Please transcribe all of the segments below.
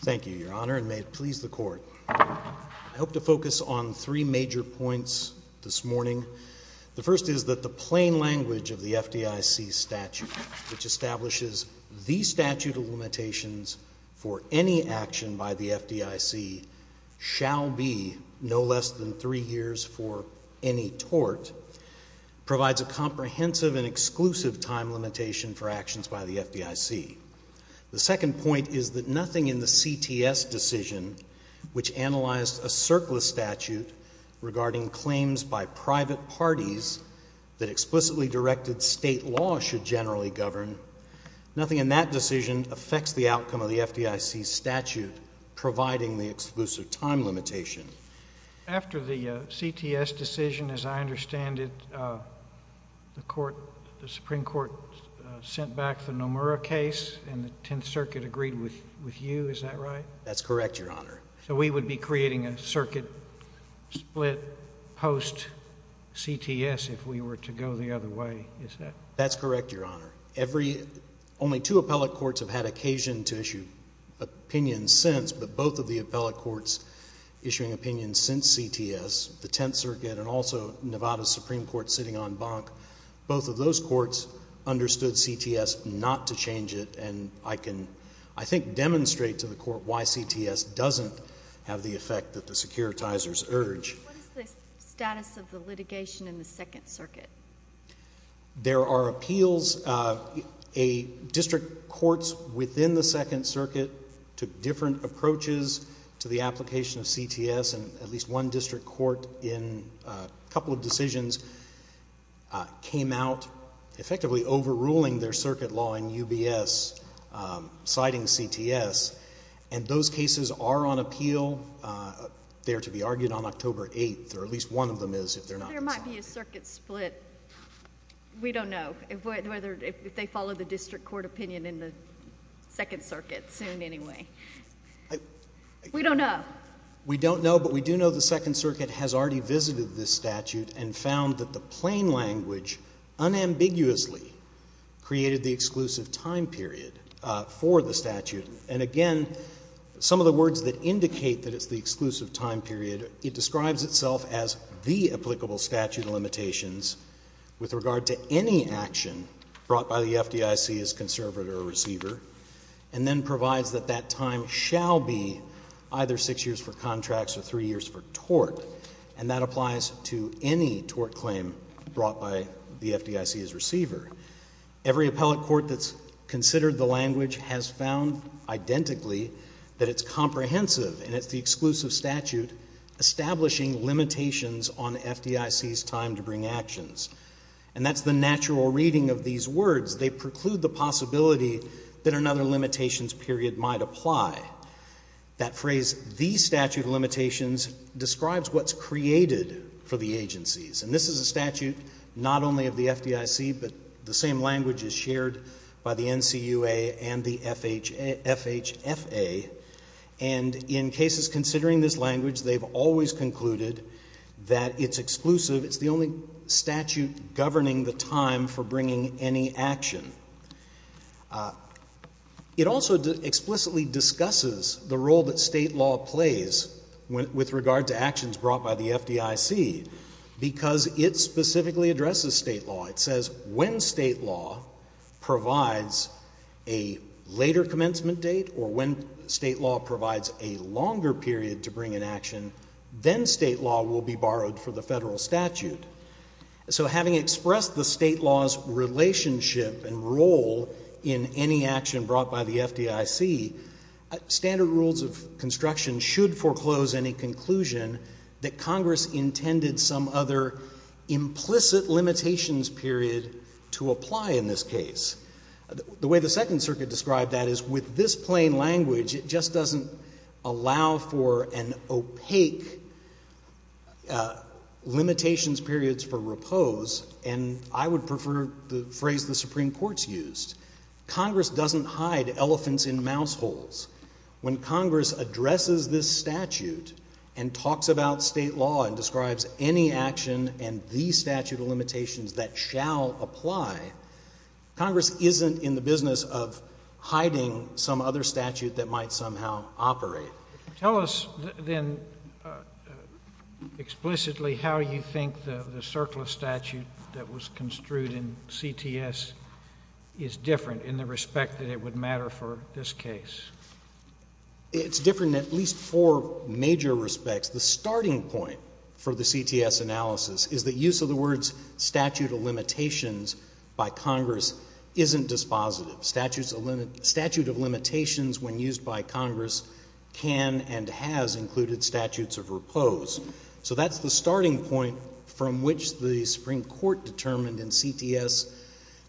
Thank you, Your Honor, and may it please the Court. I hope to focus on three major points this morning. The first is that the plain language of the FDIC statute, which establishes the statute of limitations for any action by the FDIC shall be no less than three years for any tort, provides a comprehensive and exclusive time limitation for actions by the FDIC. The second point is that nothing in the CTS decision, which analyzed a surplus statute regarding claims by private parties that explicitly directed state law should generally govern, nothing in that decision affects the outcome of the FDIC statute providing the exclusive time limitation. After the CTS decision, as I understand it, the Supreme Court sent back the Nomura case and the Tenth Circuit agreed with you, is that right? That's correct, Your Honor. So we would be creating a circuit split post-CTS if we were to go the other way, is that right? That's correct, Your Honor. Only two appellate courts have had occasion to issue opinions since, but both of the appellate courts issuing opinions since CTS, the Tenth Circuit and also Nevada's Supreme Court sitting on Bank, both of those courts understood CTS not to change it, and I can, I think, demonstrate to the Court why CTS doesn't have the effect that the securitizers urge. What is the status of the litigation in the Second Circuit? There are appeals. District courts within the Second Circuit took different approaches to the application of CTS, and at least one district court in a couple of decisions came out effectively overruling their circuit law in UBS, citing CTS, and those cases are on appeal. They're to be argued on October 8th, or at least one of them is if they're not. There might be a circuit split. We don't know if they follow the district court opinion in the Second Circuit soon anyway. We don't know. We don't know, but we do know the Second Circuit has already visited this statute and found that the plain language unambiguously created the exclusive time period for the statute, and again, some of the words that indicate that it's the exclusive time period, it describes itself as the applicable statute of limitations with regard to any action brought by the FDIC as conservator or receiver, and then provides that that time shall be either 6 years for contracts or 3 years for tort, and that applies to any tort claim brought by the FDIC as receiver. Every appellate court that's considered the language has found identically that it's comprehensive and it's the exclusive statute establishing limitations on FDIC's time to bring actions, and that's the natural reading of these words. They preclude the possibility that another limitations period might apply. That phrase, the statute of limitations, describes what's created for the agencies, and this is a statute not only of the FDIC, but the same language is shared by the NCUA and the FHFA, and in cases considering this language, they've always concluded that it's exclusive, it's the only statute governing the time for bringing any action. It also explicitly discusses the role that state law plays with regard to actions brought by the FDIC because it specifically addresses state law. It says when state law provides a later commencement date or when state law provides a longer period to bring an action, then state law will be borrowed for the federal statute. So having expressed the state law's relationship and role in any action brought by the FDIC, standard rules of construction should foreclose any conclusion that Congress intended some other implicit limitations period to apply in this case. The way the Second Circuit described that is with this plain language, it just doesn't allow for an opaque limitations periods for repose, and I would prefer the phrase the Supreme Court's used. Congress doesn't hide elephants in mouse holes. When Congress addresses this statute and talks about state law and describes any action and the statute of limitations that shall apply, Congress isn't in the business of hiding some other statute that might somehow operate. Tell us then explicitly how you think the circle of statute that was construed in CTS is different in the respect that it would matter for this case. It's different in at least four major respects. The starting point for the CTS analysis is the use of the words statute of limitations by Congress isn't dispositive. Statute of limitations when used by Congress can and has included statutes of repose. So that's the starting point from which the Supreme Court determined in CTS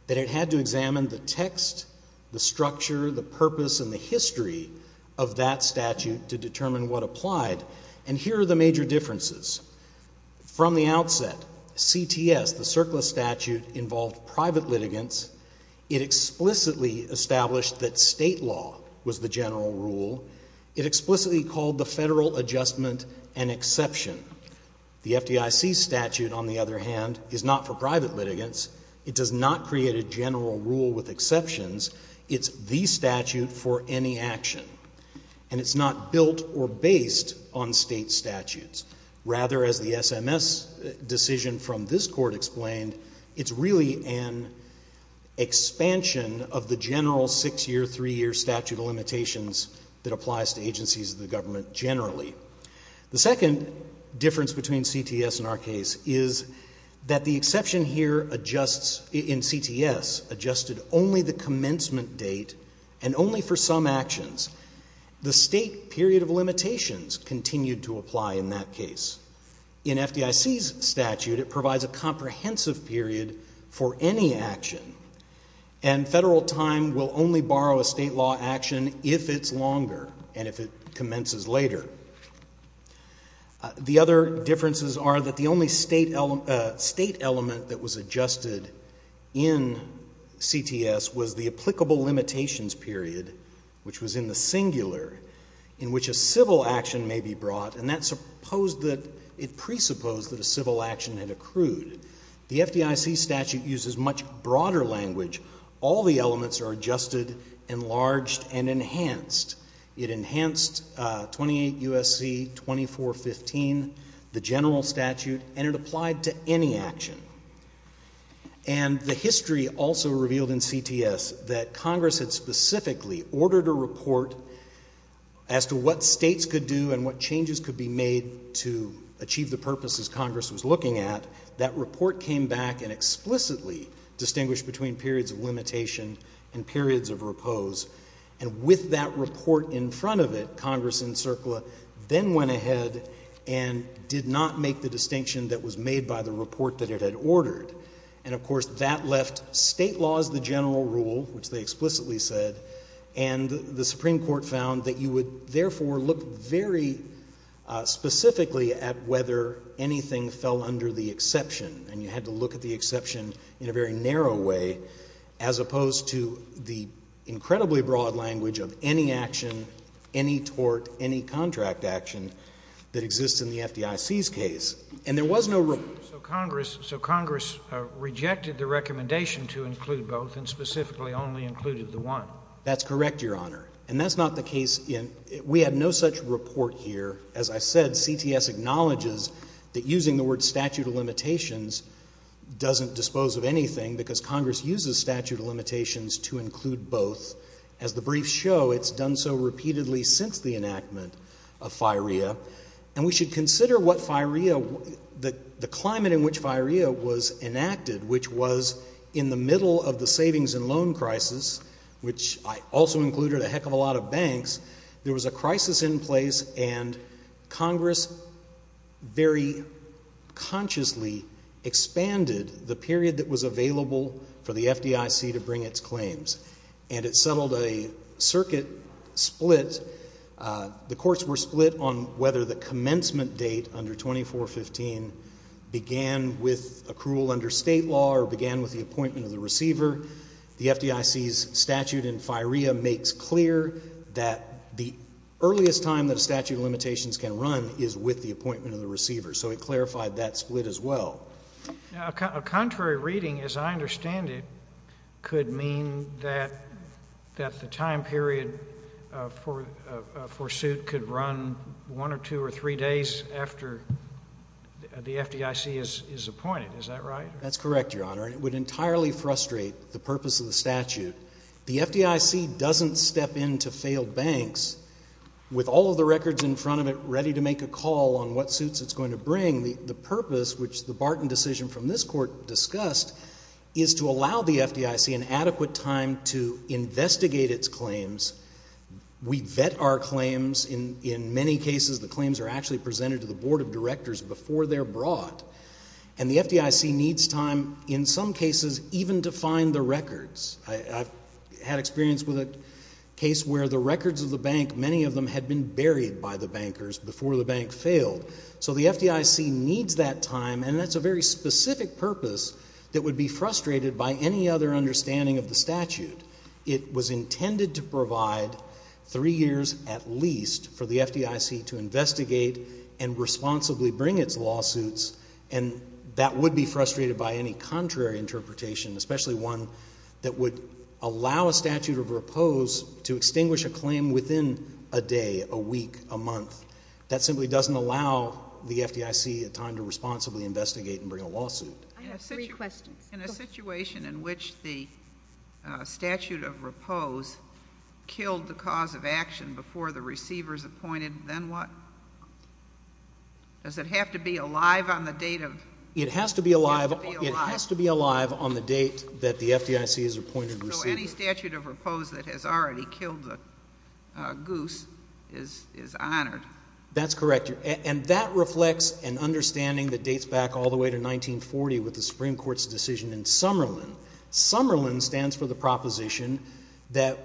that it had to examine the text, the structure, the purpose, and the history of that statute to determine what applied, and here are the major differences. From the outset, CTS, the circle of statute, involved private litigants. It explicitly established that state law was the general rule. It explicitly called the federal adjustment an exception. The FDIC statute, on the other hand, is not for private litigants. It does not create a general rule with exceptions. It's the statute for any action, and it's not built or based on state statutes. Rather, as the SMS decision from this Court explained, it's really an expansion of the general six-year, three-year statute of limitations that applies to agencies of the government generally. The second difference between CTS and our case is that the exception here adjusts in CTS adjusted only the commencement date and only for some actions. The state period of limitations continued to apply in that case. In FDIC's statute, it provides a comprehensive period for any action, and federal time will only borrow a state law action if it's longer and if it commences later. The other differences are that the only state element that was adjusted in CTS was the applicable limitations period, which was in the singular, in which a civil action may be brought, The FDIC statute uses much broader language. All the elements are adjusted, enlarged, and enhanced. It enhanced 28 U.S.C. 2415, the general statute, and it applied to any action. And the history also revealed in CTS that Congress had specifically ordered a report as to what states could do and what changes could be made to achieve the purposes Congress was looking at. That report came back and explicitly distinguished between periods of limitation and periods of repose. And with that report in front of it, Congress in CERCLA then went ahead and did not make the distinction that was made by the report that it had ordered. And, of course, that left state laws the general rule, which they explicitly said, and the Supreme Court found that you would therefore look very specifically at whether anything fell under the exception, and you had to look at the exception in a very narrow way, as opposed to the incredibly broad language of any action, any tort, any contract action that exists in the FDIC's case. And there was no rule. So Congress rejected the recommendation to include both and specifically only included the one. That's correct, Your Honor. And that's not the case. We have no such report here. As I said, CTS acknowledges that using the word statute of limitations doesn't dispose of anything because Congress uses statute of limitations to include both. As the briefs show, it's done so repeatedly since the enactment of FIREA. And we should consider what FIREA, the climate in which FIREA was enacted, which was in the middle of the savings and loan crisis, which also included a heck of a lot of banks, there was a crisis in place and Congress very consciously expanded the period that was available for the FDIC to bring its claims. And it settled a circuit split. The courts were split on whether the commencement date under 2415 began with accrual under state law or began with the appointment of the receiver. The FDIC's statute in FIREA makes clear that the earliest time that a statute of limitations can run is with the appointment of the receiver. So it clarified that split as well. A contrary reading, as I understand it, could mean that the time period for suit could run one or two or three days after the FDIC is appointed. Is that right? That's correct, Your Honor. It would entirely frustrate the purpose of the statute. The FDIC doesn't step into failed banks with all of the records in front of it ready to make a call on what suits it's going to bring. The purpose, which the Barton decision from this court discussed, is to allow the FDIC an adequate time to investigate its claims. We vet our claims. In many cases, the claims are actually presented to the Board of Directors before they're brought. And the FDIC needs time, in some cases, even to find the records. I've had experience with a case where the records of the bank, many of them had been buried by the bankers before the bank failed. So the FDIC needs that time, and that's a very specific purpose that would be frustrated by any other understanding of the statute. It was intended to provide three years at least for the FDIC to investigate and responsibly bring its lawsuits, and that would be frustrated by any contrary interpretation, especially one that would allow a statute of repose to extinguish a claim within a day, a week, a month. That simply doesn't allow the FDIC time to responsibly investigate and bring a lawsuit. I have three questions. In a situation in which the statute of repose killed the cause of action before the receiver is appointed, then what? Does it have to be alive on the date of? It has to be alive on the date that the FDIC has appointed receivers. So any statute of repose that has already killed the goose is honored. That's correct. And that reflects an understanding that dates back all the way to 1940 with the Supreme Court's decision in Summerlin. Summerlin stands for the proposition that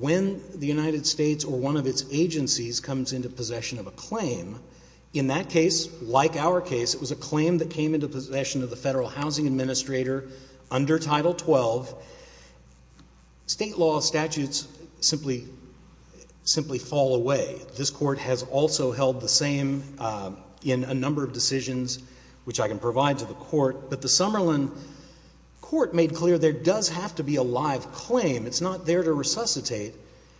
when the United States or one of its agencies comes into possession of a claim, in that case, like our case, it was a claim that came into possession of the Federal Housing Administrator under Title XII. State law statutes simply fall away. This Court has also held the same in a number of decisions, which I can provide to the Court. But the Summerlin Court made clear there does have to be a live claim. It's not there to resuscitate.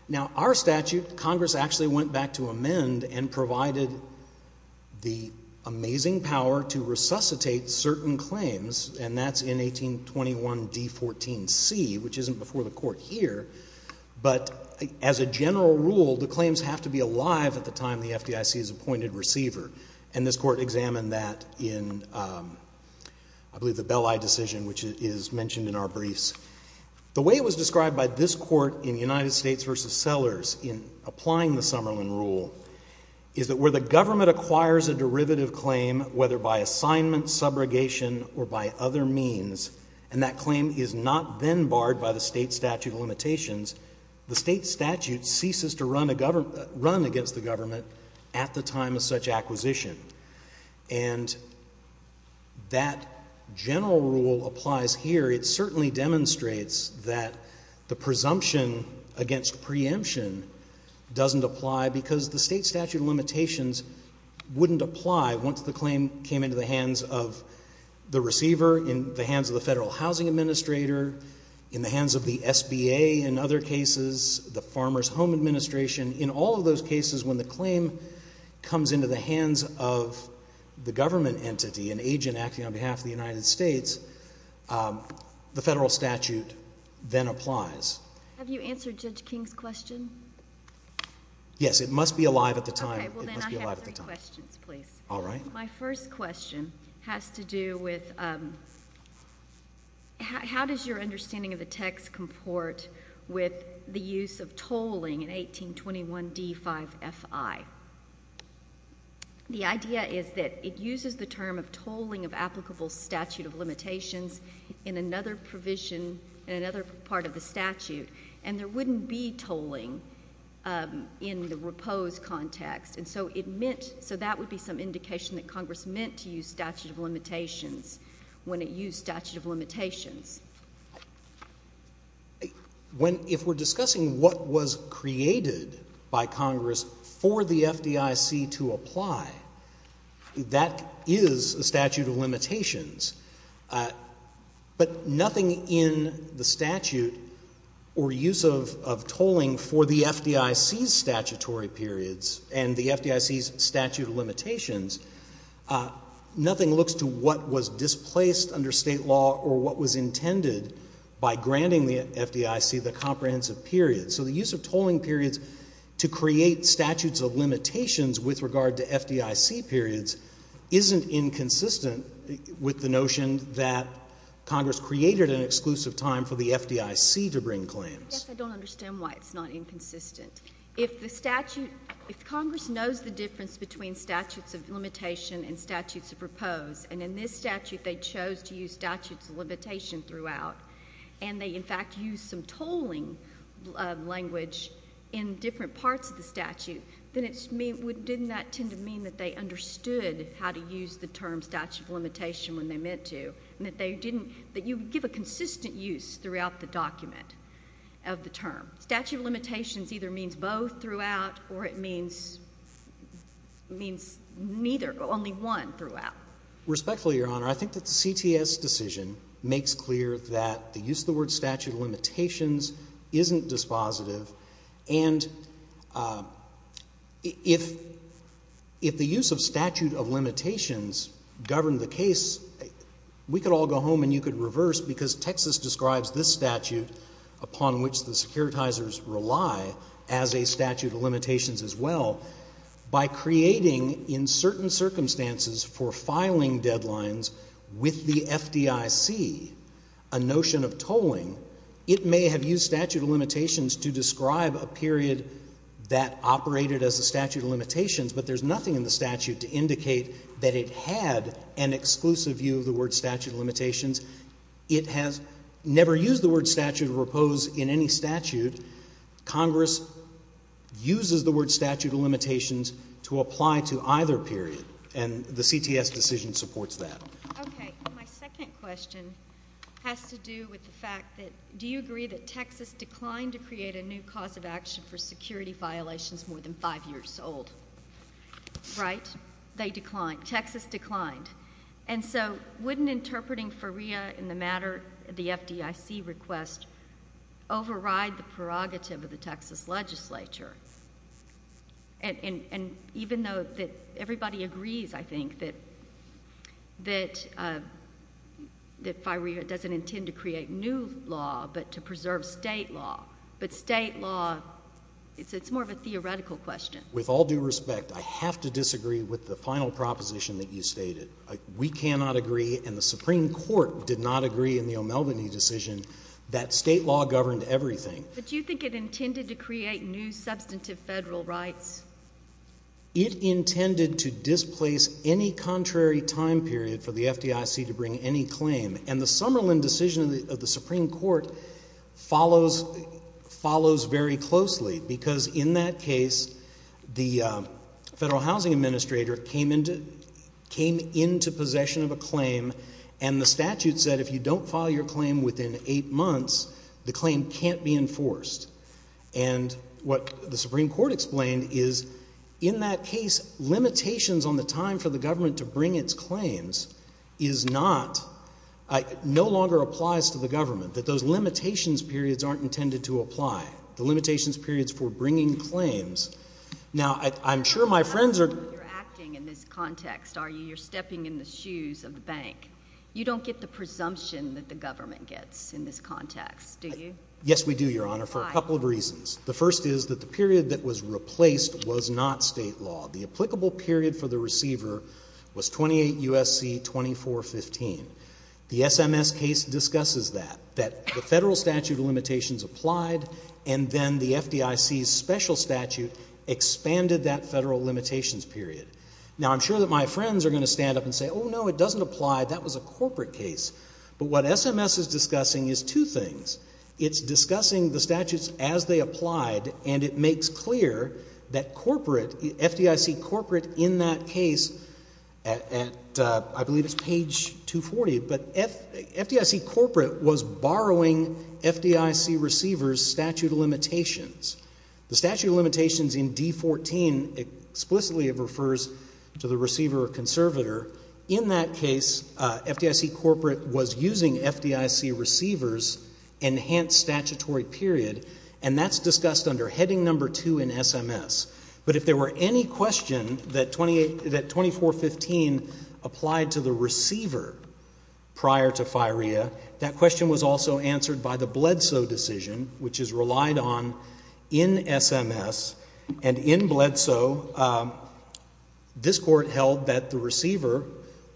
Now, our statute, Congress actually went back to amend and provided the amazing power to resuscitate certain claims, and that's in 1821 D14C, which isn't before the Court here. But as a general rule, the claims have to be alive at the time the FDIC is appointed receiver. And this Court examined that in, I believe, the Belli decision, which is mentioned in our briefs. The way it was described by this Court in United States v. Sellers in applying the Summerlin rule is that where the government acquires a derivative claim, whether by assignment, subrogation, or by other means, and that claim is not then barred by the state statute of limitations, the state statute ceases to run against the government at the time of such acquisition. And that general rule applies here. It certainly demonstrates that the presumption against preemption doesn't apply because the state statute of limitations wouldn't apply once the claim came into the hands of the receiver, in the hands of the Federal Housing Administrator, in the hands of the SBA in other cases, the Farmers Home Administration. In all of those cases, when the claim comes into the hands of the government entity, an agent acting on behalf of the United States, the Federal statute then applies. Have you answered Judge King's question? Yes, it must be alive at the time. Okay, well then I have three questions, please. All right. My first question has to do with how does your understanding of the text comport with the use of tolling in 1821 D5FI? The idea is that it uses the term of tolling of applicable statute of limitations in another provision, in another part of the statute, and there wouldn't be tolling in the repose context. So that would be some indication that Congress meant to use statute of If we're discussing what was created by Congress for the FDIC to apply, that is a statute of limitations. But nothing in the statute or use of tolling for the FDIC's statutory periods and the FDIC's statute of limitations, nothing looks to what was displaced under State law or what was intended by granting the FDIC the comprehensive period. So the use of tolling periods to create statutes of limitations with regard to FDIC periods isn't inconsistent with the notion that Congress created an exclusive time for the FDIC to bring claims. Yes, I don't understand why it's not inconsistent. If Congress knows the difference between statutes of limitation and statutes of repose, and in this statute they chose to use statutes of limitation throughout, and they, in fact, used some tolling language in different parts of the statute, then didn't that tend to mean that they understood how to use the term statute of limitation when they meant to, and that you would give a consistent use throughout the document of the term? Statute of limitations either means both throughout or it means neither, but only one throughout. Respectfully, Your Honor, I think that the CTS decision makes clear that the use of the word statute of limitations isn't dispositive. And if the use of statute of limitations governed the case, we could all go home and you could reverse because Texas describes this statute upon which the securitizers rely as a statute of limitations as well. By creating, in certain circumstances, for filing deadlines with the FDIC a notion of tolling, it may have used statute of limitations to describe a period that operated as a statute of limitations, but there's nothing in the statute to indicate that it had an exclusive view of the word statute of limitations. It has never used the word statute of repose in any statute. Congress uses the word statute of limitations to apply to either period, and the CTS decision supports that. Okay. My second question has to do with the fact that do you agree that Texas declined to create a new cause of action for security violations more than five years old? Right? They declined. Texas declined. And so wouldn't interpreting FOREA in the matter of the FDIC request override the prerogative of the Texas legislature? And even though everybody agrees, I think, that FOREA doesn't intend to create new law, but to preserve state law. But state law, it's more of a theoretical question. With all due respect, I have to disagree with the final proposition that you stated. We cannot agree and the Supreme Court did not agree in the O'Melveny decision that state law governed everything. But do you think it intended to create new substantive federal rights? It intended to displace any contrary time period for the FDIC to bring any claim. And the Summerlin decision of the Supreme Court follows very closely, because in that case, the Federal Housing Administrator came into possession of a claim, and the statute said, if you don't file your claim within eight months, the claim can't be enforced. And what the Supreme Court explained is, in that case, limitations on the time for the government to bring its claims is not, no longer applies to the government, that those limitations periods aren't intended to apply. The limitations periods for bringing claims. Now, I'm sure my friends are. You're acting in this context, are you? You're stepping in the shoes of the bank. You don't get the presumption that the government gets in this context, do you? Yes, we do, Your Honor, for a couple of reasons. The first is that the period that was replaced was not state law. The applicable period for the receiver was 28 U.S.C. 2415. The SMS case discusses that, that the federal statute of limitations applied, and then the FDIC's special statute expanded that federal limitations period. Now, I'm sure that my friends are going to stand up and say, oh, no, it doesn't apply. That was a corporate case. But what SMS is discussing is two things. It's discussing the statutes as they applied, and it makes clear that corporate, FDIC corporate in that case, at I believe it's page 240, but FDIC corporate was borrowing FDIC receiver's statute of limitations. The statute of limitations in D14 explicitly refers to the receiver or conservator. In that case, FDIC corporate was using FDIC receiver's enhanced statutory period, and that's discussed under heading number two in SMS. But if there were any question that 2415 applied to the receiver prior to FIREA, that question was also answered by the Bledsoe decision, which is relied on in SMS. And in Bledsoe, this court held that the receiver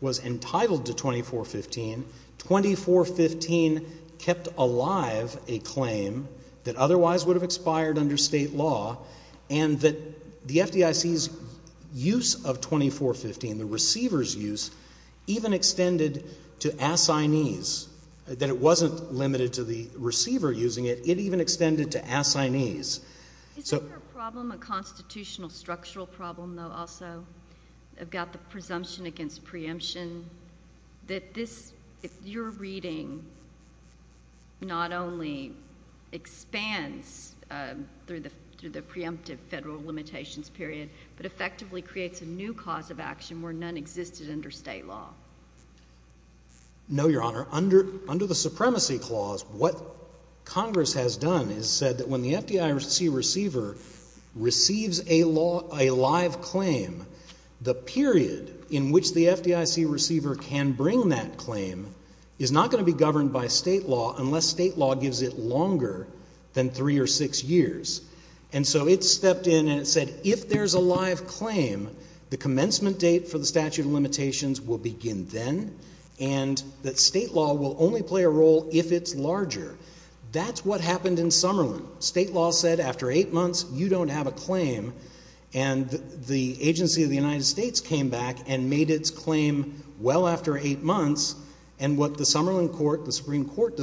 was entitled to 2415. 2415 kept alive a claim that otherwise would have expired under state law, and that the FDIC's use of 2415, the receiver's use, even extended to assignees, that it wasn't limited to the receiver using it. It even extended to assignees. Isn't there a problem, a constitutional structural problem, though, also about the presumption against preemption that this, if you're reading, not only expands through the preemptive federal limitations period, but effectively creates a new cause of action where none existed under state law? No, Your Honor. Under the Supremacy Clause, what Congress has done is said that when the FDIC receiver receives a live claim, the period in which the FDIC receiver can bring that claim is not going to be governed by state law unless state law gives it longer than three or six years. And so it stepped in and it said, if there's a live claim, the commencement date for the statute of limitations will begin then, and that state law will only play a role if it's larger. That's what happened in Summerlin. State law said, after eight months, you don't have a claim. And the agency of the United States came back and made its claim well after eight months. And what the Summerlin Court, the Supreme Court,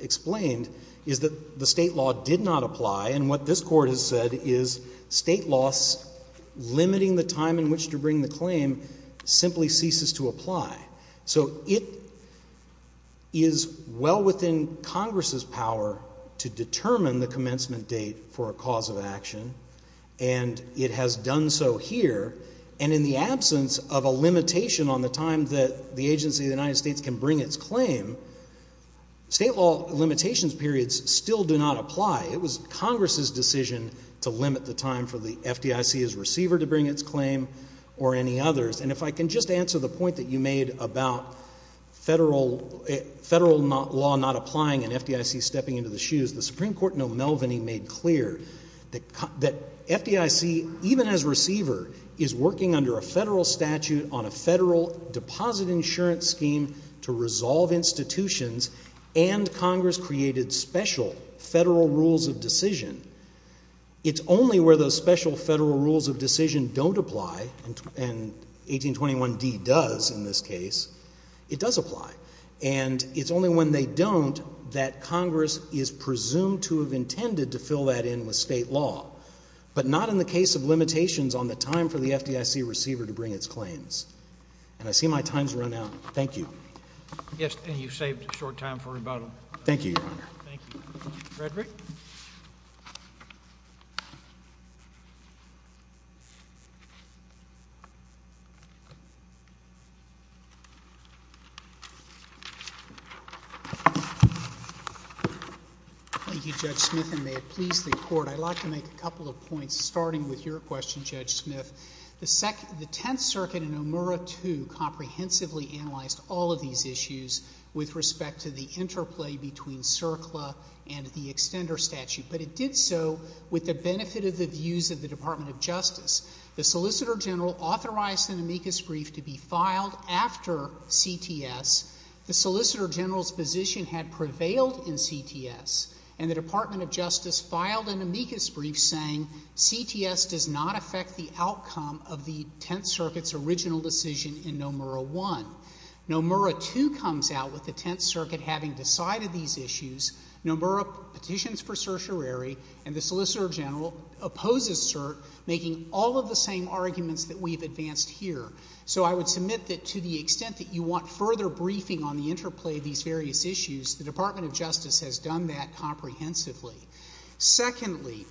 explained is that the state law did not apply. And what this court has said is state laws limiting the time in which to bring the claim simply ceases to apply. So it is well within Congress's power to determine the commencement date for a cause of action, and it has done so here. And in the absence of a limitation on the time that the agency of the United States can bring its claim, state law limitations periods still do not apply. It was Congress's decision to limit the time for the FDIC's receiver to bring its claim or any others. And if I can just answer the point that you made about federal law not applying and FDIC stepping into the shoes, the Supreme Court in O'Melveny made clear that FDIC, even as receiver, is working under a federal statute on a federal deposit insurance scheme to resolve institutions, and Congress created special federal rules of decision. It's only where those special federal rules of decision don't apply and 1821d does in this case, it does apply. And it's only when they don't that Congress is presumed to have intended to fill that in with state law, but not in the case of limitations on the time for the FDIC receiver to bring its claims. And I see my time's run out. Thank you. Yes, and you've saved a short time for rebuttal. Thank you, Your Honor. Thank you. Thank you, Judge Smith, and may it please the Court. I'd like to make a couple of points, starting with your question, Judge Smith. The Tenth Circuit in OMURA II comprehensively analyzed all of these issues with respect to the interplay between CERCLA and the extender statute, but it did so with the benefit of the views of the Department of Justice. The Solicitor General authorized an amicus brief to be filed after CTS. The Solicitor General's position had prevailed in CTS, and the Department of Justice filed an amicus brief saying CTS does not affect the outcome of the Tenth Circuit's original decision in OMURA I. OMURA II comes out with the Tenth Circuit having decided these issues, OMURA petitions for certiorari, and the Solicitor General opposes CERT, making all of the same arguments that we've advanced here. So I would submit that to the extent that you want further briefing on the interplay of these various issues, the Department of Justice has done that comprehensively. Secondly,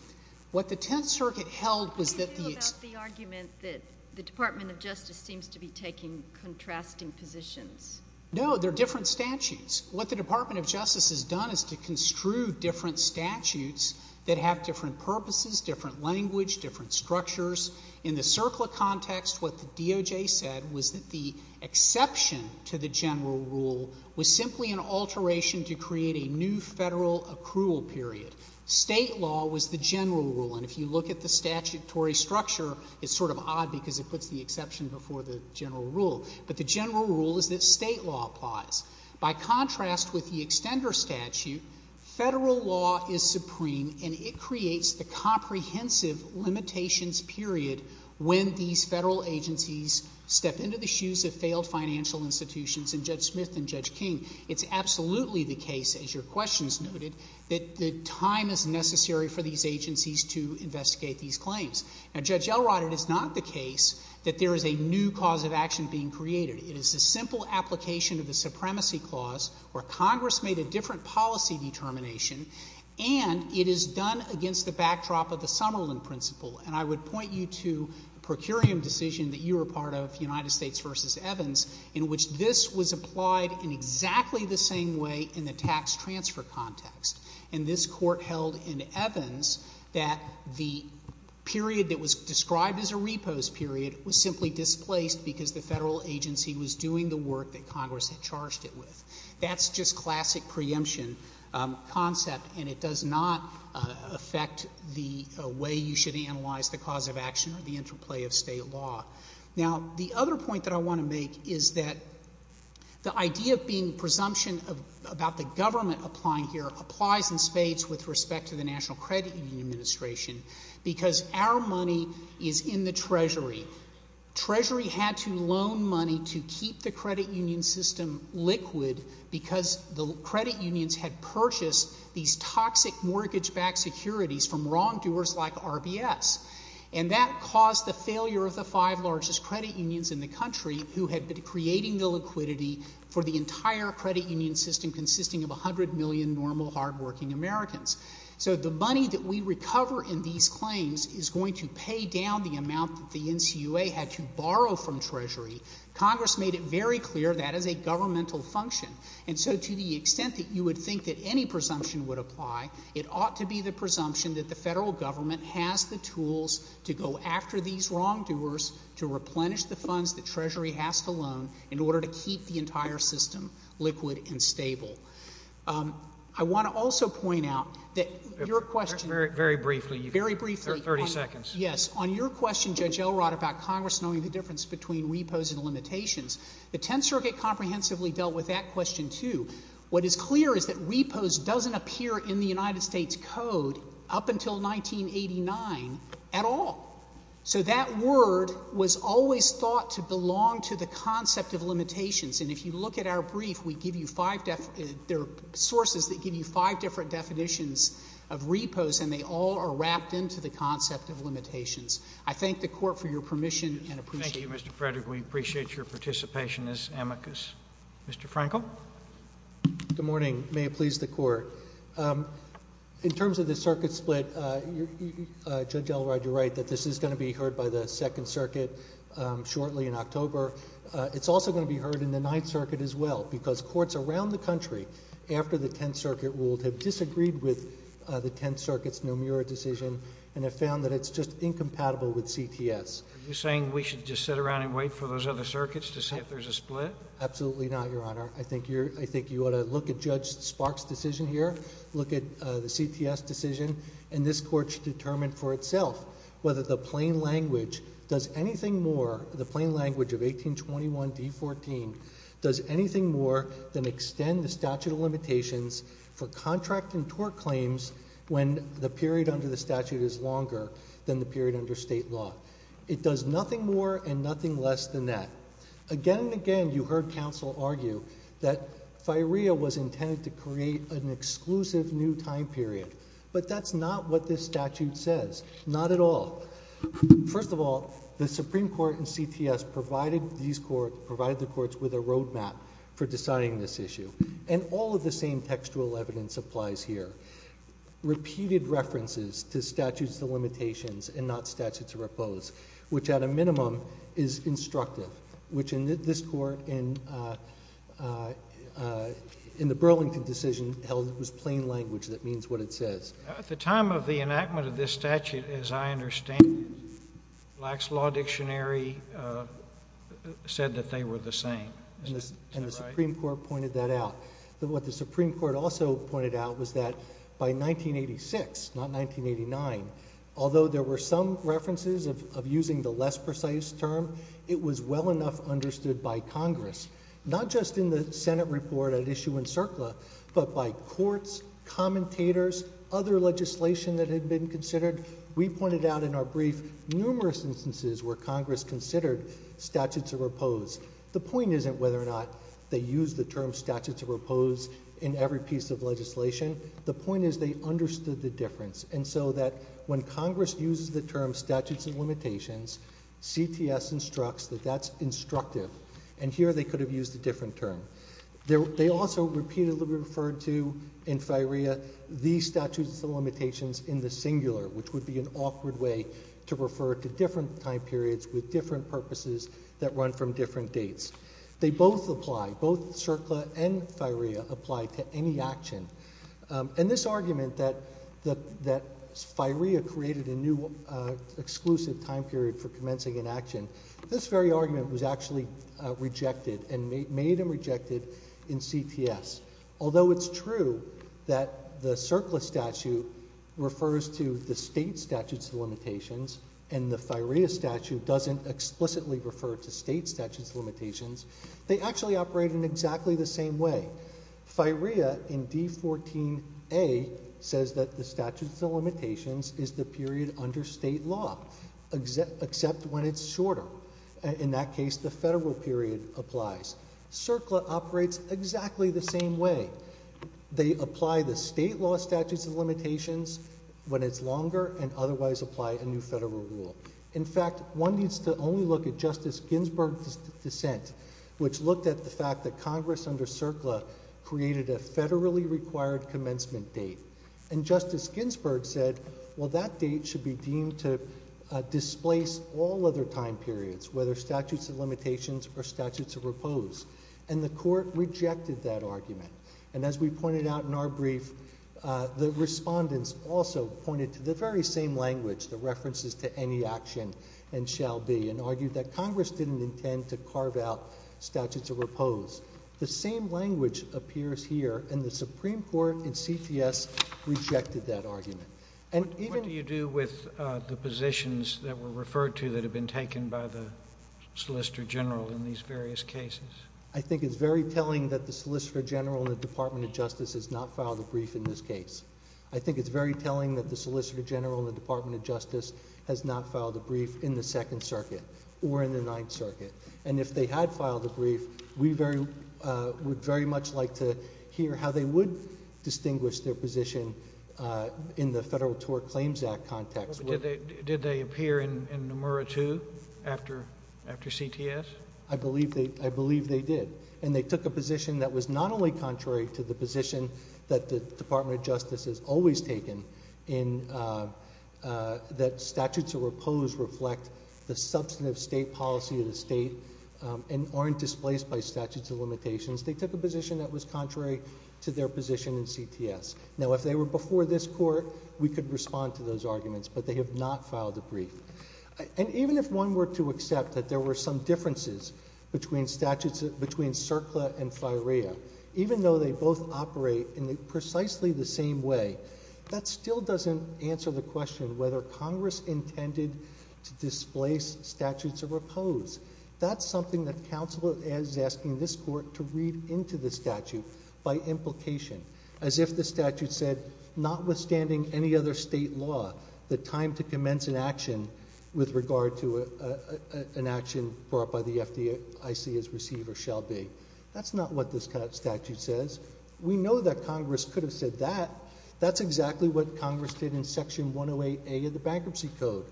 what the Tenth Circuit held was that the — How do you feel about the argument that the Department of Justice seems to be taking contrasting positions? No, they're different statutes. What the Department of Justice has done is to construe different statutes that have different purposes, different language, different structures. In the CERCLA context, what the DOJ said was that the exception to the general rule was simply an alteration to create a new federal accrual period. State law was the general rule, and if you look at the statutory structure, it's sort of odd because it puts the exception before the general rule. But the general rule is that state law applies. By contrast with the extender statute, federal law is supreme, and it creates the comprehensive limitations period when these federal agencies step into the shoes of failed financial institutions and Judge Smith and Judge King. It's absolutely the case, as your questions noted, that the time is necessary for these agencies to investigate these claims. Now, Judge Elrod, it is not the case that there is a new cause of action being created. It is a simple application of the supremacy clause where Congress made a different policy determination, and it is done against the backdrop of the Summerlin principle. And I would point you to a procurium decision that you were part of, United States v. Evans, in which this was applied in exactly the same way in the tax transfer context. And this Court held in Evans that the period that was described as a repose period was simply displaced because the federal agency was doing the work that Congress had charged it with. That's just classic preemption concept, and it does not affect the way you should analyze the cause of action or the interplay of state law. Now, the other point that I want to make is that the idea of being presumption about the government applying here applies in spades with respect to the National Credit Union Administration because our money is in the Treasury. Treasury had to loan money to keep the credit union system liquid because the credit unions had purchased these toxic mortgage-backed securities from wrongdoers like RBS. And that caused the failure of the five largest credit unions in the country who had been creating the liquidity for the entire credit union system consisting of 100 million normal, hardworking Americans. So the money that we recover in these claims is going to pay down the amount that the NCUA had to borrow from Treasury. Congress made it very clear that is a governmental function. And so to the extent that you would think that any presumption would apply, it ought to be the presumption that the federal government has the tools to go after these wrongdoers to replenish the funds that Treasury has to loan in order to keep the entire system liquid and stable. I want to also point out that your question. Very briefly. Very briefly. 30 seconds. Yes. On your question, Judge Elrod, about Congress knowing the difference between repos and limitations, the Tenth Circuit comprehensively dealt with that question too. What is clear is that repos doesn't appear in the United States Code up until 1989 at all. So that word was always thought to belong to the concept of limitations, and if you look at our brief, there are sources that give you five different definitions of repos, and they all are wrapped into the concept of limitations. I thank the Court for your permission and appreciate it. Thank you, Mr. Frederick. We appreciate your participation as amicus. Mr. Frankel. Good morning. May it please the Court. In terms of the circuit split, Judge Elrod, you're right that this is going to be heard by the Second Circuit shortly in October. It's also going to be heard in the Ninth Circuit as well because courts around the country, after the Tenth Circuit ruled, have disagreed with the Tenth Circuit's Nomura decision and have found that it's just incompatible with CTS. Are you saying we should just sit around and wait for those other circuits to see if there's a split? Absolutely not, Your Honor. I think you ought to look at Judge Sparks' decision here, look at the CTS decision, and this Court should determine for itself whether the plain language does anything more, the plain language of 1821d14, does anything more than extend the statute of limitations for contract and tort claims when the period under the statute is longer than the period under state law. It does nothing more and nothing less than that. Again and again you heard counsel argue that firea was intended to create an exclusive new time period, but that's not what this statute says, not at all. First of all, the Supreme Court and CTS provided these courts, provided the courts with a roadmap for deciding this issue, and all of the same textual evidence applies here. Repeated references to statutes of limitations and not statutes of repose, which at a minimum is instructive. Which in this Court, in the Burlington decision held it was plain language that means what it says. At the time of the enactment of this statute, as I understand it, Black's Law Dictionary said that they were the same, isn't that right? And the Supreme Court pointed that out. What the Supreme Court also pointed out was that by 1986, not 1989, although there were some references of using the less precise term, it was well enough understood by Congress, not just in the Senate report at issue in CERCLA, but by courts, commentators, other legislation that had been considered. We pointed out in our brief numerous instances where Congress considered statutes of repose. The point isn't whether or not they use the term statutes of repose in every piece of legislation. The point is they understood the difference. And so that when Congress uses the term statutes of limitations, CTS instructs that that's instructive. And here they could have used a different term. They also repeatedly referred to in FIREA, these statutes of limitations in the singular, which would be an awkward way to refer to different time periods with different purposes that run from different dates. They both apply, both CERCLA and FIREA apply to any action. And this argument that FIREA created a new exclusive time period for commencing an action, this very argument was actually rejected and made and rejected in CTS. Although it's true that the CERCLA statute refers to the state statutes of limitations and the FIREA statute doesn't explicitly refer to state statutes of limitations. They actually operate in exactly the same way. FIREA in D14A says that the statute of limitations is the period under state law, except when it's shorter. In that case, the federal period applies. CERCLA operates exactly the same way. They apply the state law statutes of limitations when it's longer and otherwise apply a new federal rule. In fact, one needs to only look at Justice Ginsburg's dissent, which looked at the fact that Congress under CERCLA created a federally required commencement date. And Justice Ginsburg said, well, that date should be deemed to displace all other time periods, whether statutes of limitations or statutes of repose. And the court rejected that argument. And as we pointed out in our brief, the respondents also pointed to the very same language, the references to any action and shall be, and argued that Congress didn't intend to carve out statutes of repose. The same language appears here and the Supreme Court in CTS rejected that argument. And even... What do you do with the positions that were referred to that have been taken by the Solicitor General in these various cases? I think it's very telling that the Solicitor General in the Department of Justice has not filed a brief in this case. I think it's very telling that the Solicitor General in the Department of Justice has not filed a brief in the Second Circuit or in the Ninth Circuit. And if they had filed a brief, we would very much like to hear how they would distinguish their position in the Federal Tort Claims Act context. Did they appear in Nomura, too, after CTS? I believe they did. And they took a position that was not only contrary to the position that the Department of Justice has always taken in that statutes of repose reflect the substantive state policy of the state and aren't displaced by statutes of limitations. They took a position that was contrary to their position in CTS. Now, if they were before this Court, we could respond to those arguments, but they have not filed a brief. And even if one were to accept that there were some differences between statutes, between CERCLA and FIREA, even though they both operate in precisely the same way, that still doesn't answer the question whether Congress intended to displace statutes of repose. That's something that counsel is asking this Court to read into the statute by implication, as if the statute said, notwithstanding any other state law, the time to commence an action with regard to an action brought by the FDIC as receiver shall be. That's not what this statute says. We know that Congress could have said that. That's exactly what Congress did in Section 108A of the Bankruptcy Code,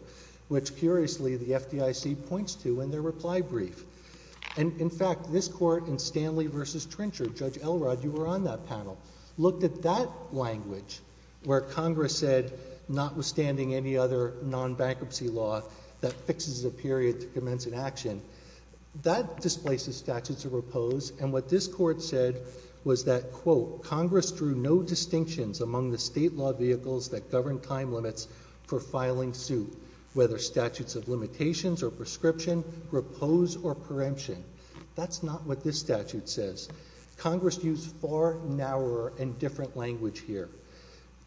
which, curiously, the FDIC points to in their reply brief. And, in fact, this Court in Stanley v. Trincher, Judge Elrod, you were on that panel, looked at that language, where Congress said, notwithstanding any other non-bankruptcy law that fixes a period to commence an action, that displaces statutes of repose. And what this Court said was that, quote, Congress drew no distinctions among the state law vehicles that govern time limits for filing suit, whether statutes of limitations or prescription, repose or preemption. That's not what this statute says. Congress used far narrower and different language here.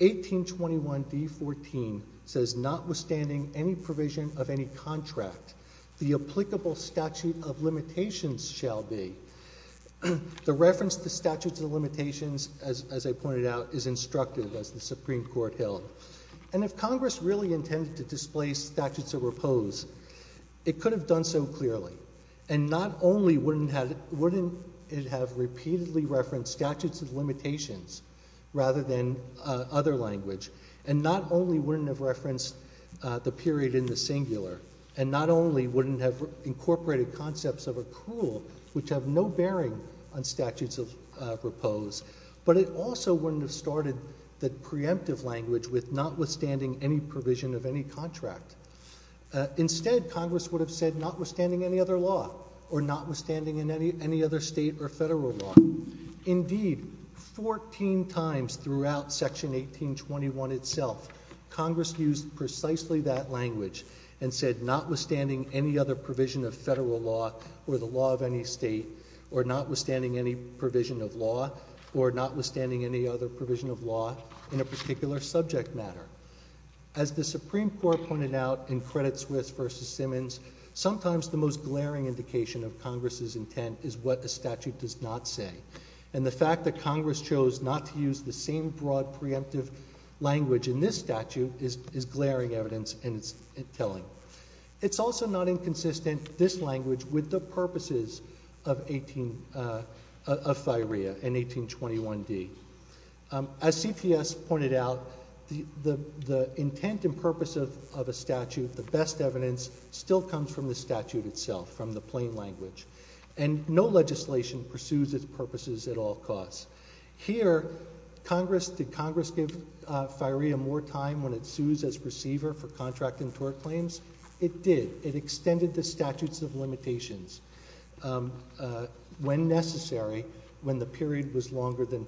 1821d.14 says, notwithstanding any provision of any contract, the applicable statute of limitations shall be. The reference to statutes of limitations, as I pointed out, is instructive, as the Supreme Court held. And if Congress really intended to displace statutes of repose, it could have done so clearly. And not only wouldn't it have repeatedly referenced statutes of limitations rather than other language, and not only wouldn't it have referenced the period in the singular, and not only wouldn't it have incorporated concepts of accrual, which have no bearing on statutes of repose, but it also wouldn't have started the preemptive language with notwithstanding any provision of any contract. Instead, Congress would have said notwithstanding any other law or notwithstanding any other state or federal law. Indeed, 14 times throughout Section 1821 itself, Congress used precisely that language and said notwithstanding any other provision of federal law or the law of any state or notwithstanding any provision of law or notwithstanding any other provision of law in a particular subject matter. As the Supreme Court pointed out in Credit Suisse v. Simmons, sometimes the most glaring indication of Congress's intent is what a statute does not say. And the fact that Congress chose not to use the same broad preemptive language in this statute is glaring evidence in its telling. It's also not inconsistent, this language, with the purposes of FIREA and 1821d. As CPS pointed out, the intent and purpose of a statute, the best evidence still comes from the statute itself, from the plain language. And no legislation pursues its purposes at all costs. Here, did Congress give FIREA more time when it sues its receiver for contract and tort claims? It did. It extended the statutes of limitations when necessary when the period was longer than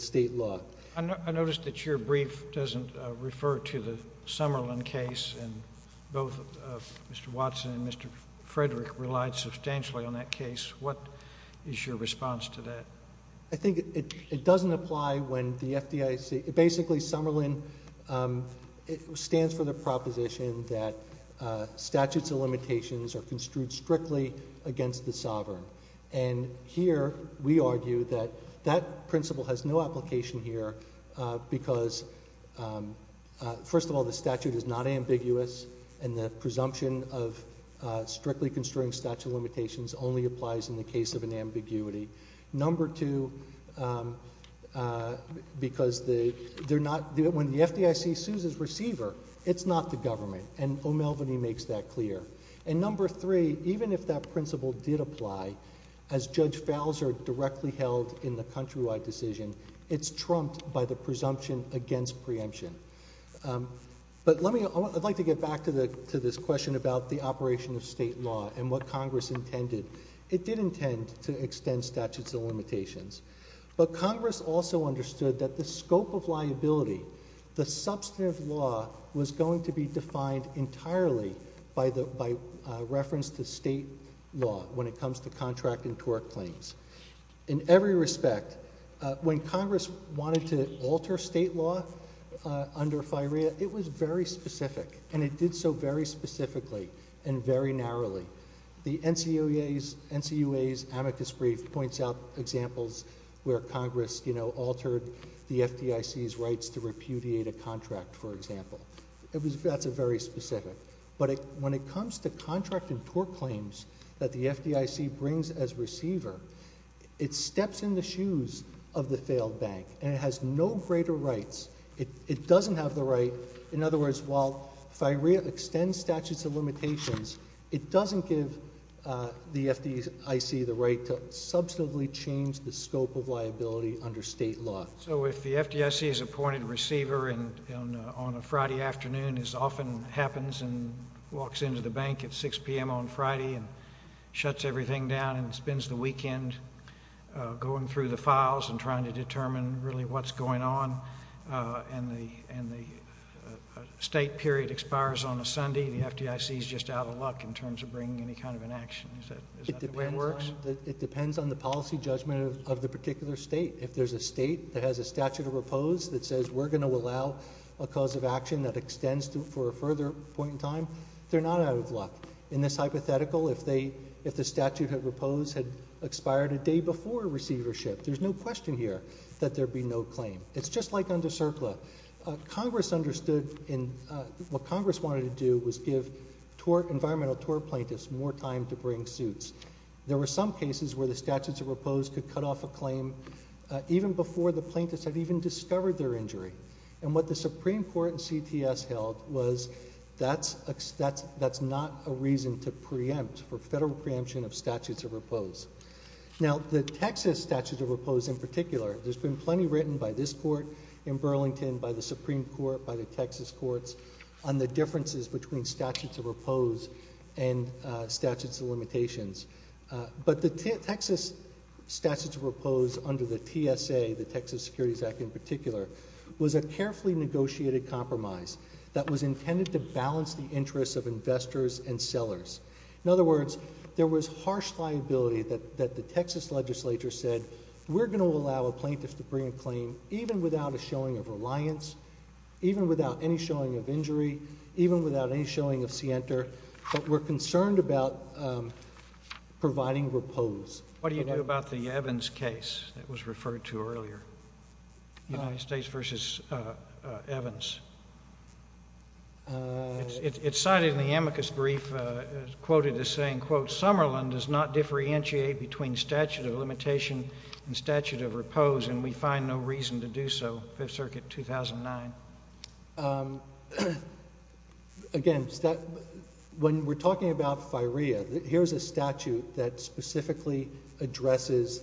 state law. I notice that your brief doesn't refer to the Summerlin case, and both Mr. Watson and Mr. Frederick relied substantially on that case. What is your response to that? I think it doesn't apply when the FDIC... Basically, Summerlin stands for the proposition that statutes of limitations are construed strictly against the sovereign. And here we argue that that principle has no application here because, first of all, the statute is not ambiguous and the presumption of strictly construing statute of limitations only applies in the case of an ambiguity. Number two, because when the FDIC sues its receiver, it's not the government, and O'Melveny makes that clear. And number three, even if that principle did apply, as Judge Falzer directly held in the countrywide decision, it's trumped by the presumption against preemption. But I'd like to get back to this question about the operation of state law and what Congress intended. It did intend to extend statutes of limitations, but Congress also understood that the scope of liability, the substantive law, was going to be defined entirely by reference to state law when it comes to contract and tort claims. In every respect, when Congress wanted to alter state law under FIREA, it was very specific, and it did so very specifically and very narrowly. The NCOA's amicus brief points out examples where Congress altered the FDIC's rights to repudiate a contract, for example. That's very specific. But when it comes to contract and tort claims that the FDIC brings as receiver, it steps in the shoes of the failed bank, and it has no greater rights. It doesn't have the right... In other words, while FIREA extends statutes of limitations, it doesn't give the FDIC the right to substantively change the scope of liability under state law. So if the FDIC's appointed receiver on a Friday afternoon, as often happens, and walks into the bank at 6 p.m. on Friday and shuts everything down and spends the weekend going through the files and trying to determine really what's going on, and the state period expires on a Sunday, the FDIC's just out of luck in terms of bringing any kind of an action. Is that the way it works? It depends on the policy judgment of the particular state. If there's a state that has a statute of repose that says we're going to allow a cause of action that extends for a further point in time, they're not out of luck. In this hypothetical, if the statute of repose had expired a day before receivership, there's no question here that there'd be no claim. It's just like under CERCLA. Congress understood what Congress wanted to do was give environmental tort plaintiffs more time to bring suits. There were some cases where the statutes of repose could cut off a claim even before the plaintiffs had even discovered their injury. And what the Supreme Court and CTS held was that's not a reason to preempt for federal preemption of statutes of repose. Now, the Texas statutes of repose in particular, there's been plenty written by this court in Burlington, by the Supreme Court, by the Texas courts, on the differences between statutes of repose and statutes of limitations. But the Texas statutes of repose under the TSA, the Texas Securities Act in particular, was a carefully negotiated compromise that was intended to balance the interests of investors and sellers. In other words, there was harsh liability that the Texas legislature said we're going to allow a plaintiff to bring a claim even without a showing of reliance, even without any showing of injury, even without any showing of scienter, but we're concerned about providing repose. What do you do about the Evans case that was referred to earlier? United States v. Evans. It's cited in the amicus brief, quoted as saying, quote, Somerlin does not differentiate between statute of limitation and statute of repose, and we find no reason to do so. Fifth Circuit, 2009. Again, when we're talking about firea, here's a statute that specifically addresses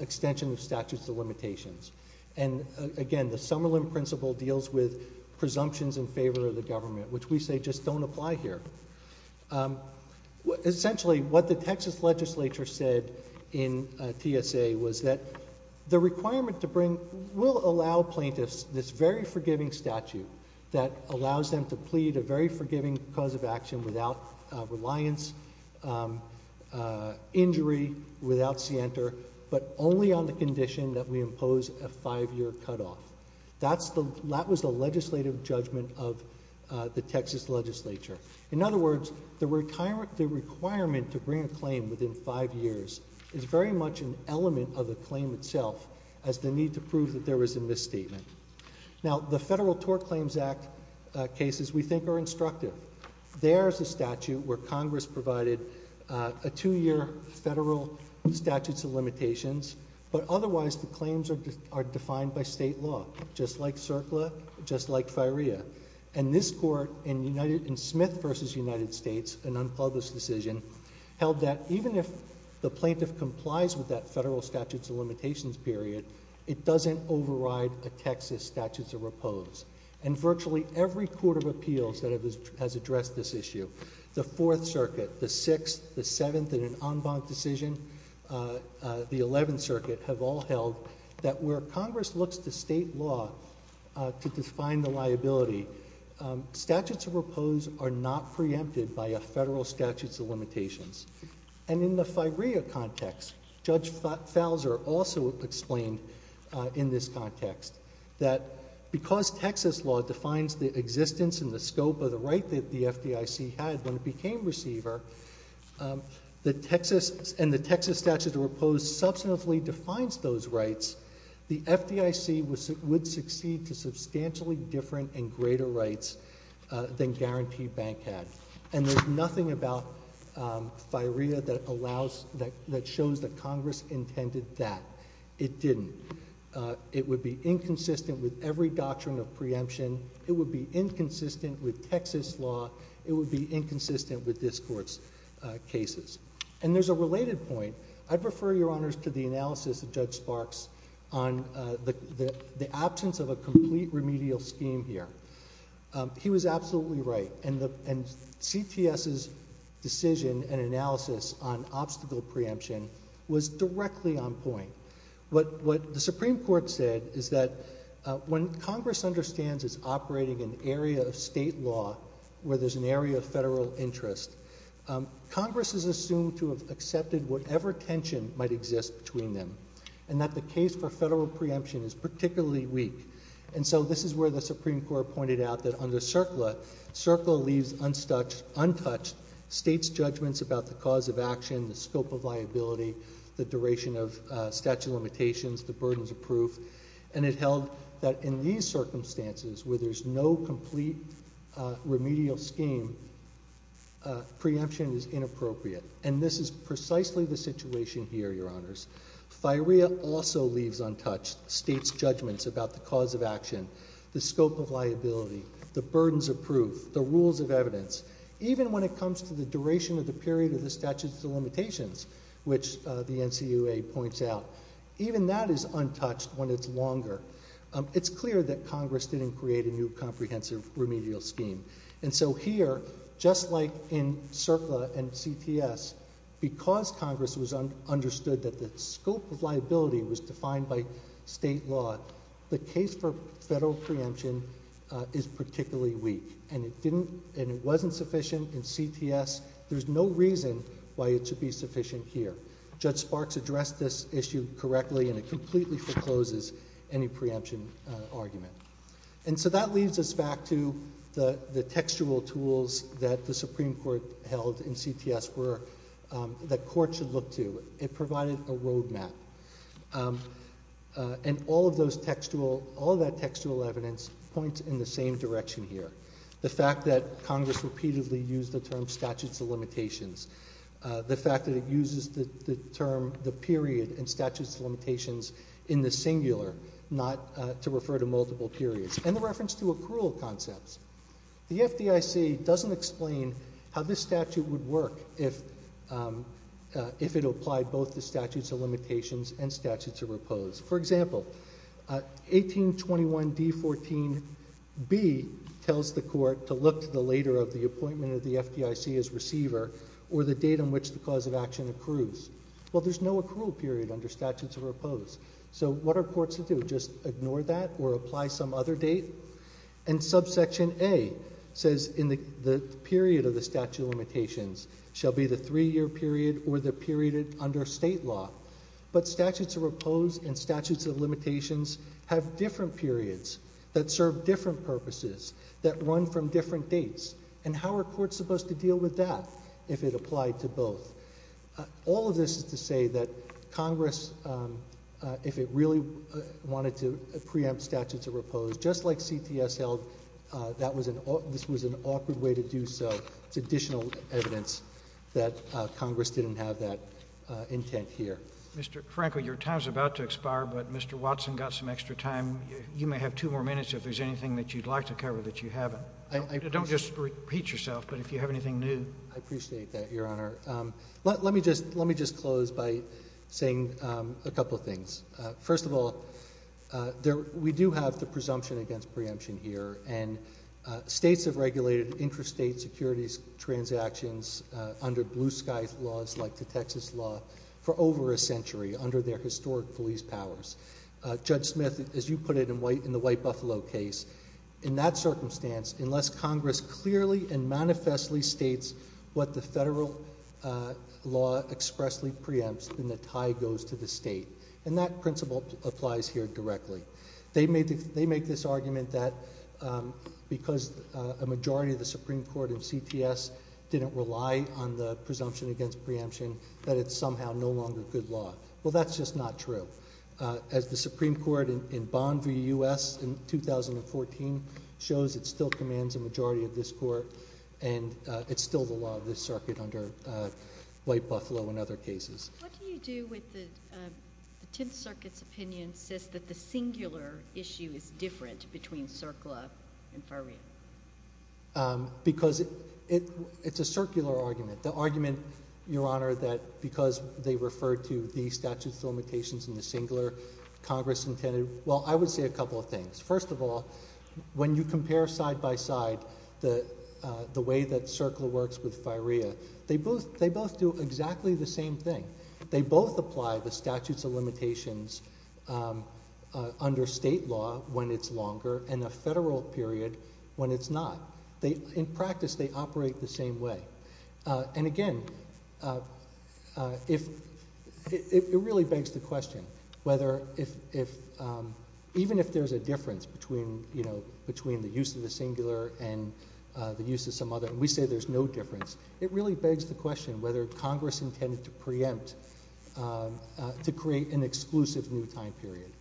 extension of statutes of limitations. And again, the Somerlin principle deals with presumptions in favor of the government, which we say just don't apply here. Essentially, what the Texas legislature said in TSA was that the requirement to bring will allow plaintiffs this very forgiving statute that allows them to plead a very forgiving cause of action without reliance, injury, without scienter, but only on the condition that we impose a five-year cutoff. That was the legislative judgment of the Texas legislature. In other words, the requirement to bring a claim within five years is very much an element of the claim itself as the need to prove that there was a misstatement. Now, the Federal Tort Claims Act cases we think are instructive. There's a statute where Congress provided a two-year federal statute of limitations, but otherwise the claims are defined by state law, just like CERCLA, just like firea. And this court in Smith v. United States, an unpublished decision, held that even if the plaintiff complies with that federal statute of limitations period, it doesn't override a Texas statute of repose. And virtually every court of appeals that has addressed this issue, the Fourth Circuit, the Sixth, the Seventh, and an en banc decision, the Eleventh Circuit, have all held that where Congress looks to state law to define the liability, statutes of repose are not preempted by a federal statute of limitations. And in the firea context, Judge Falzer also explained in this context that because Texas law defines the existence and the scope of the right that the FDIC had when it became receiver, and the Texas statute of repose substantively defines those rights, the FDIC would succeed to substantially different and greater rights than guaranteed bank had. And there's nothing about firea that shows that Congress intended that. It didn't. It would be inconsistent with every doctrine of preemption. It would be inconsistent with Texas law. It would be inconsistent with this court's cases. And there's a related point. I'd refer your honors to the analysis of Judge Sparks on the absence of a complete remedial scheme here. He was absolutely right. And CTS's decision and analysis on obstacle preemption was directly on point. What the Supreme Court said is that when Congress understands it's operating in an area of state law where there's an area of federal interest, Congress is assumed to have accepted whatever tension might exist between them and that the case for federal preemption is particularly weak. And so this is where the Supreme Court pointed out that under CERCLA, CERCLA leaves untouched states' judgments about the cause of action, the scope of liability, the duration of statute of limitations, the burdens of proof, and it held that in these circumstances where there's no complete remedial scheme, preemption is inappropriate. And this is precisely the situation here, your honors. FIREA also leaves untouched states' judgments about the cause of action, the scope of liability, the burdens of proof, the rules of evidence, even when it comes to the duration of the period of the statute of limitations, which the NCUA points out. Even that is untouched when it's longer. It's clear that Congress didn't create a new comprehensive remedial scheme. And so here, just like in CERCLA and CTS, because Congress understood that the scope of liability was defined by state law, the case for federal preemption is particularly weak, and it wasn't sufficient in CTS. There's no reason why it should be sufficient here. Judge Sparks addressed this issue correctly, and it completely forecloses any preemption argument. And so that leads us back to the textual tools that the Supreme Court held in CTS that courts should look to. It provided a road map. And all of that textual evidence points in the same direction here. The fact that Congress repeatedly used the term statute of limitations, the fact that it uses the term the period in statute of limitations in the singular, not to refer to multiple periods, and the reference to accrual concepts. The FDIC doesn't explain how this statute would work if it applied both the statute of limitations and statute to repose. For example, 1821d14b tells the court to look to the later of the appointment of the FDIC as receiver or the date on which the cause of action accrues. Well, there's no accrual period under statutes of repose. So what are courts to do, just ignore that or apply some other date? And subsection A says in the period of the statute of limitations shall be the three-year period or the period under state law. But statutes of repose and statutes of limitations have different periods that serve different purposes, that run from different dates. And how are courts supposed to deal with that if it applied to both? All of this is to say that Congress, if it really wanted to preempt statutes of repose, just like CTSL, this was an awkward way to do so. It's additional evidence that Congress didn't have that intent here. Mr. Frankel, your time is about to expire, but Mr. Watson got some extra time. You may have two more minutes if there's anything that you'd like to cover that you haven't. Don't just repeat yourself, but if you have anything new. I appreciate that, Your Honor. Let me just close by saying a couple of things. First of all, we do have the presumption against preemption here, and states have regulated interstate securities transactions under blue-sky laws like the Texas law for over a century under their historic police powers. Judge Smith, as you put it in the White Buffalo case, in that circumstance, unless Congress clearly and manifestly states what the federal law expressly preempts, then the tie goes to the state. And that principle applies here directly. They make this argument that because a majority of the Supreme Court in CTS didn't rely on the presumption against preemption, that it's somehow no longer good law. Well, that's just not true. As the Supreme Court in Bond v. U.S. in 2014 shows, it still commands a majority of this court, and it's still the law of this circuit under White Buffalo and other cases. What do you do when the Tenth Circuit's opinion says that the singular issue is different between CERCLA and FARIA? Because it's a circular argument. The argument, Your Honor, that because they refer to the statutes of limitations in the singular Congress intended, well, I would say a couple of things. First of all, when you compare side by side the way that CERCLA works with FARIA, they both do exactly the same thing. They both apply the statutes of limitations under state law when it's longer and a federal period when it's not. In practice, they operate the same way. And again, it really begs the question whether even if there's a difference between the use of the singular and the use of some other, and we say there's no difference, it really begs the question whether Congress intended to preempt, to create an exclusive new time period.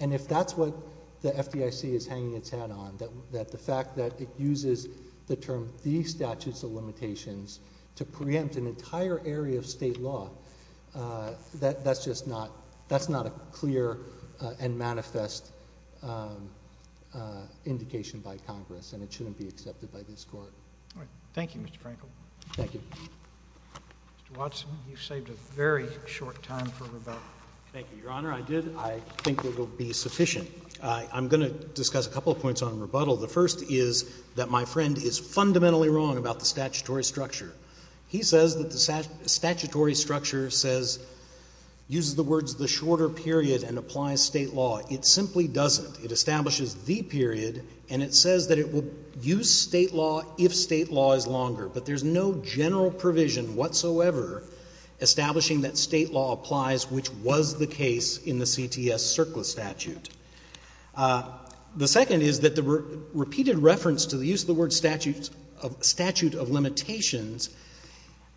And if that's what the FDIC is hanging its head on, that the fact that it uses the term the statutes of limitations to preempt an entire area of state law, that's just not a clear and manifest indication by Congress, and it shouldn't be accepted by this Court. All right. Thank you, Mr. Frankel. Thank you. Mr. Watson, you saved a very short time for rebuttal. Thank you, Your Honor. I did. I think it will be sufficient. I'm going to discuss a couple of points on rebuttal. The first is that my friend is fundamentally wrong about the statutory structure. He says that the statutory structure says, uses the words the shorter period and applies state law. It simply doesn't. It establishes the period, and it says that it will use state law if state law is longer. But there's no general provision whatsoever establishing that state law applies, which was the case in the CTS surplus statute. The second is that the repeated reference to the use of the word statute of limitations,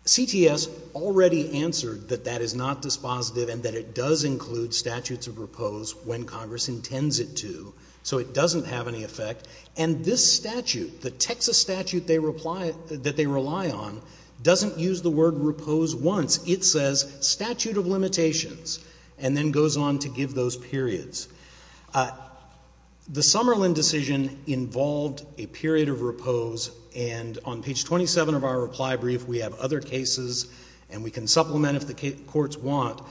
CTS already answered that that is not dispositive and that it does include statutes of repose when Congress intends it to. So it doesn't have any effect. And this statute, the Texas statute that they rely on, doesn't use the word repose once. It says statute of limitations and then goes on to give those periods. The Sutherland decision involved a period of repose, and on page 27 of our reply brief, we have other cases, and we can supplement if the courts want.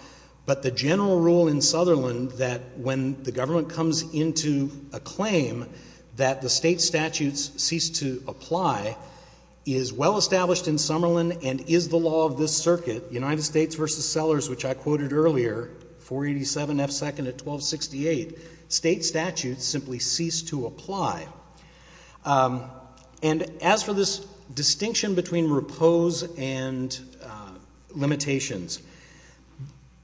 But the general rule in Sutherland that when the government comes into a claim that the state statutes cease to apply is well established in Summerlin and is the law of this circuit, United States v. Sellers, which I quoted earlier, 487 F. 2nd of 1268, state statutes simply cease to apply. And as for this distinction between repose and limitations,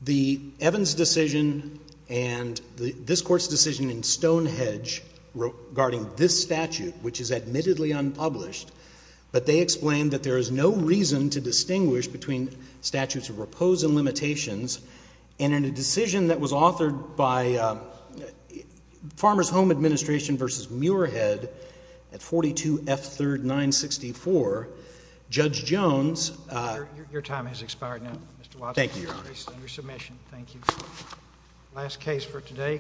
the Evans decision and this Court's decision in Stonehenge regarding this statute, which is admittedly unpublished, but they explained that there is no reason to distinguish between statutes of repose and limitations, and in a decision that was authored by Farmer's Home Administration v. Muirhead at 42 F. 3rd, 964, Judge Jones— Your time has expired now, Mr. Watson. Thank you, Your Honor. Your case is under submission. Thank you. Last case for today.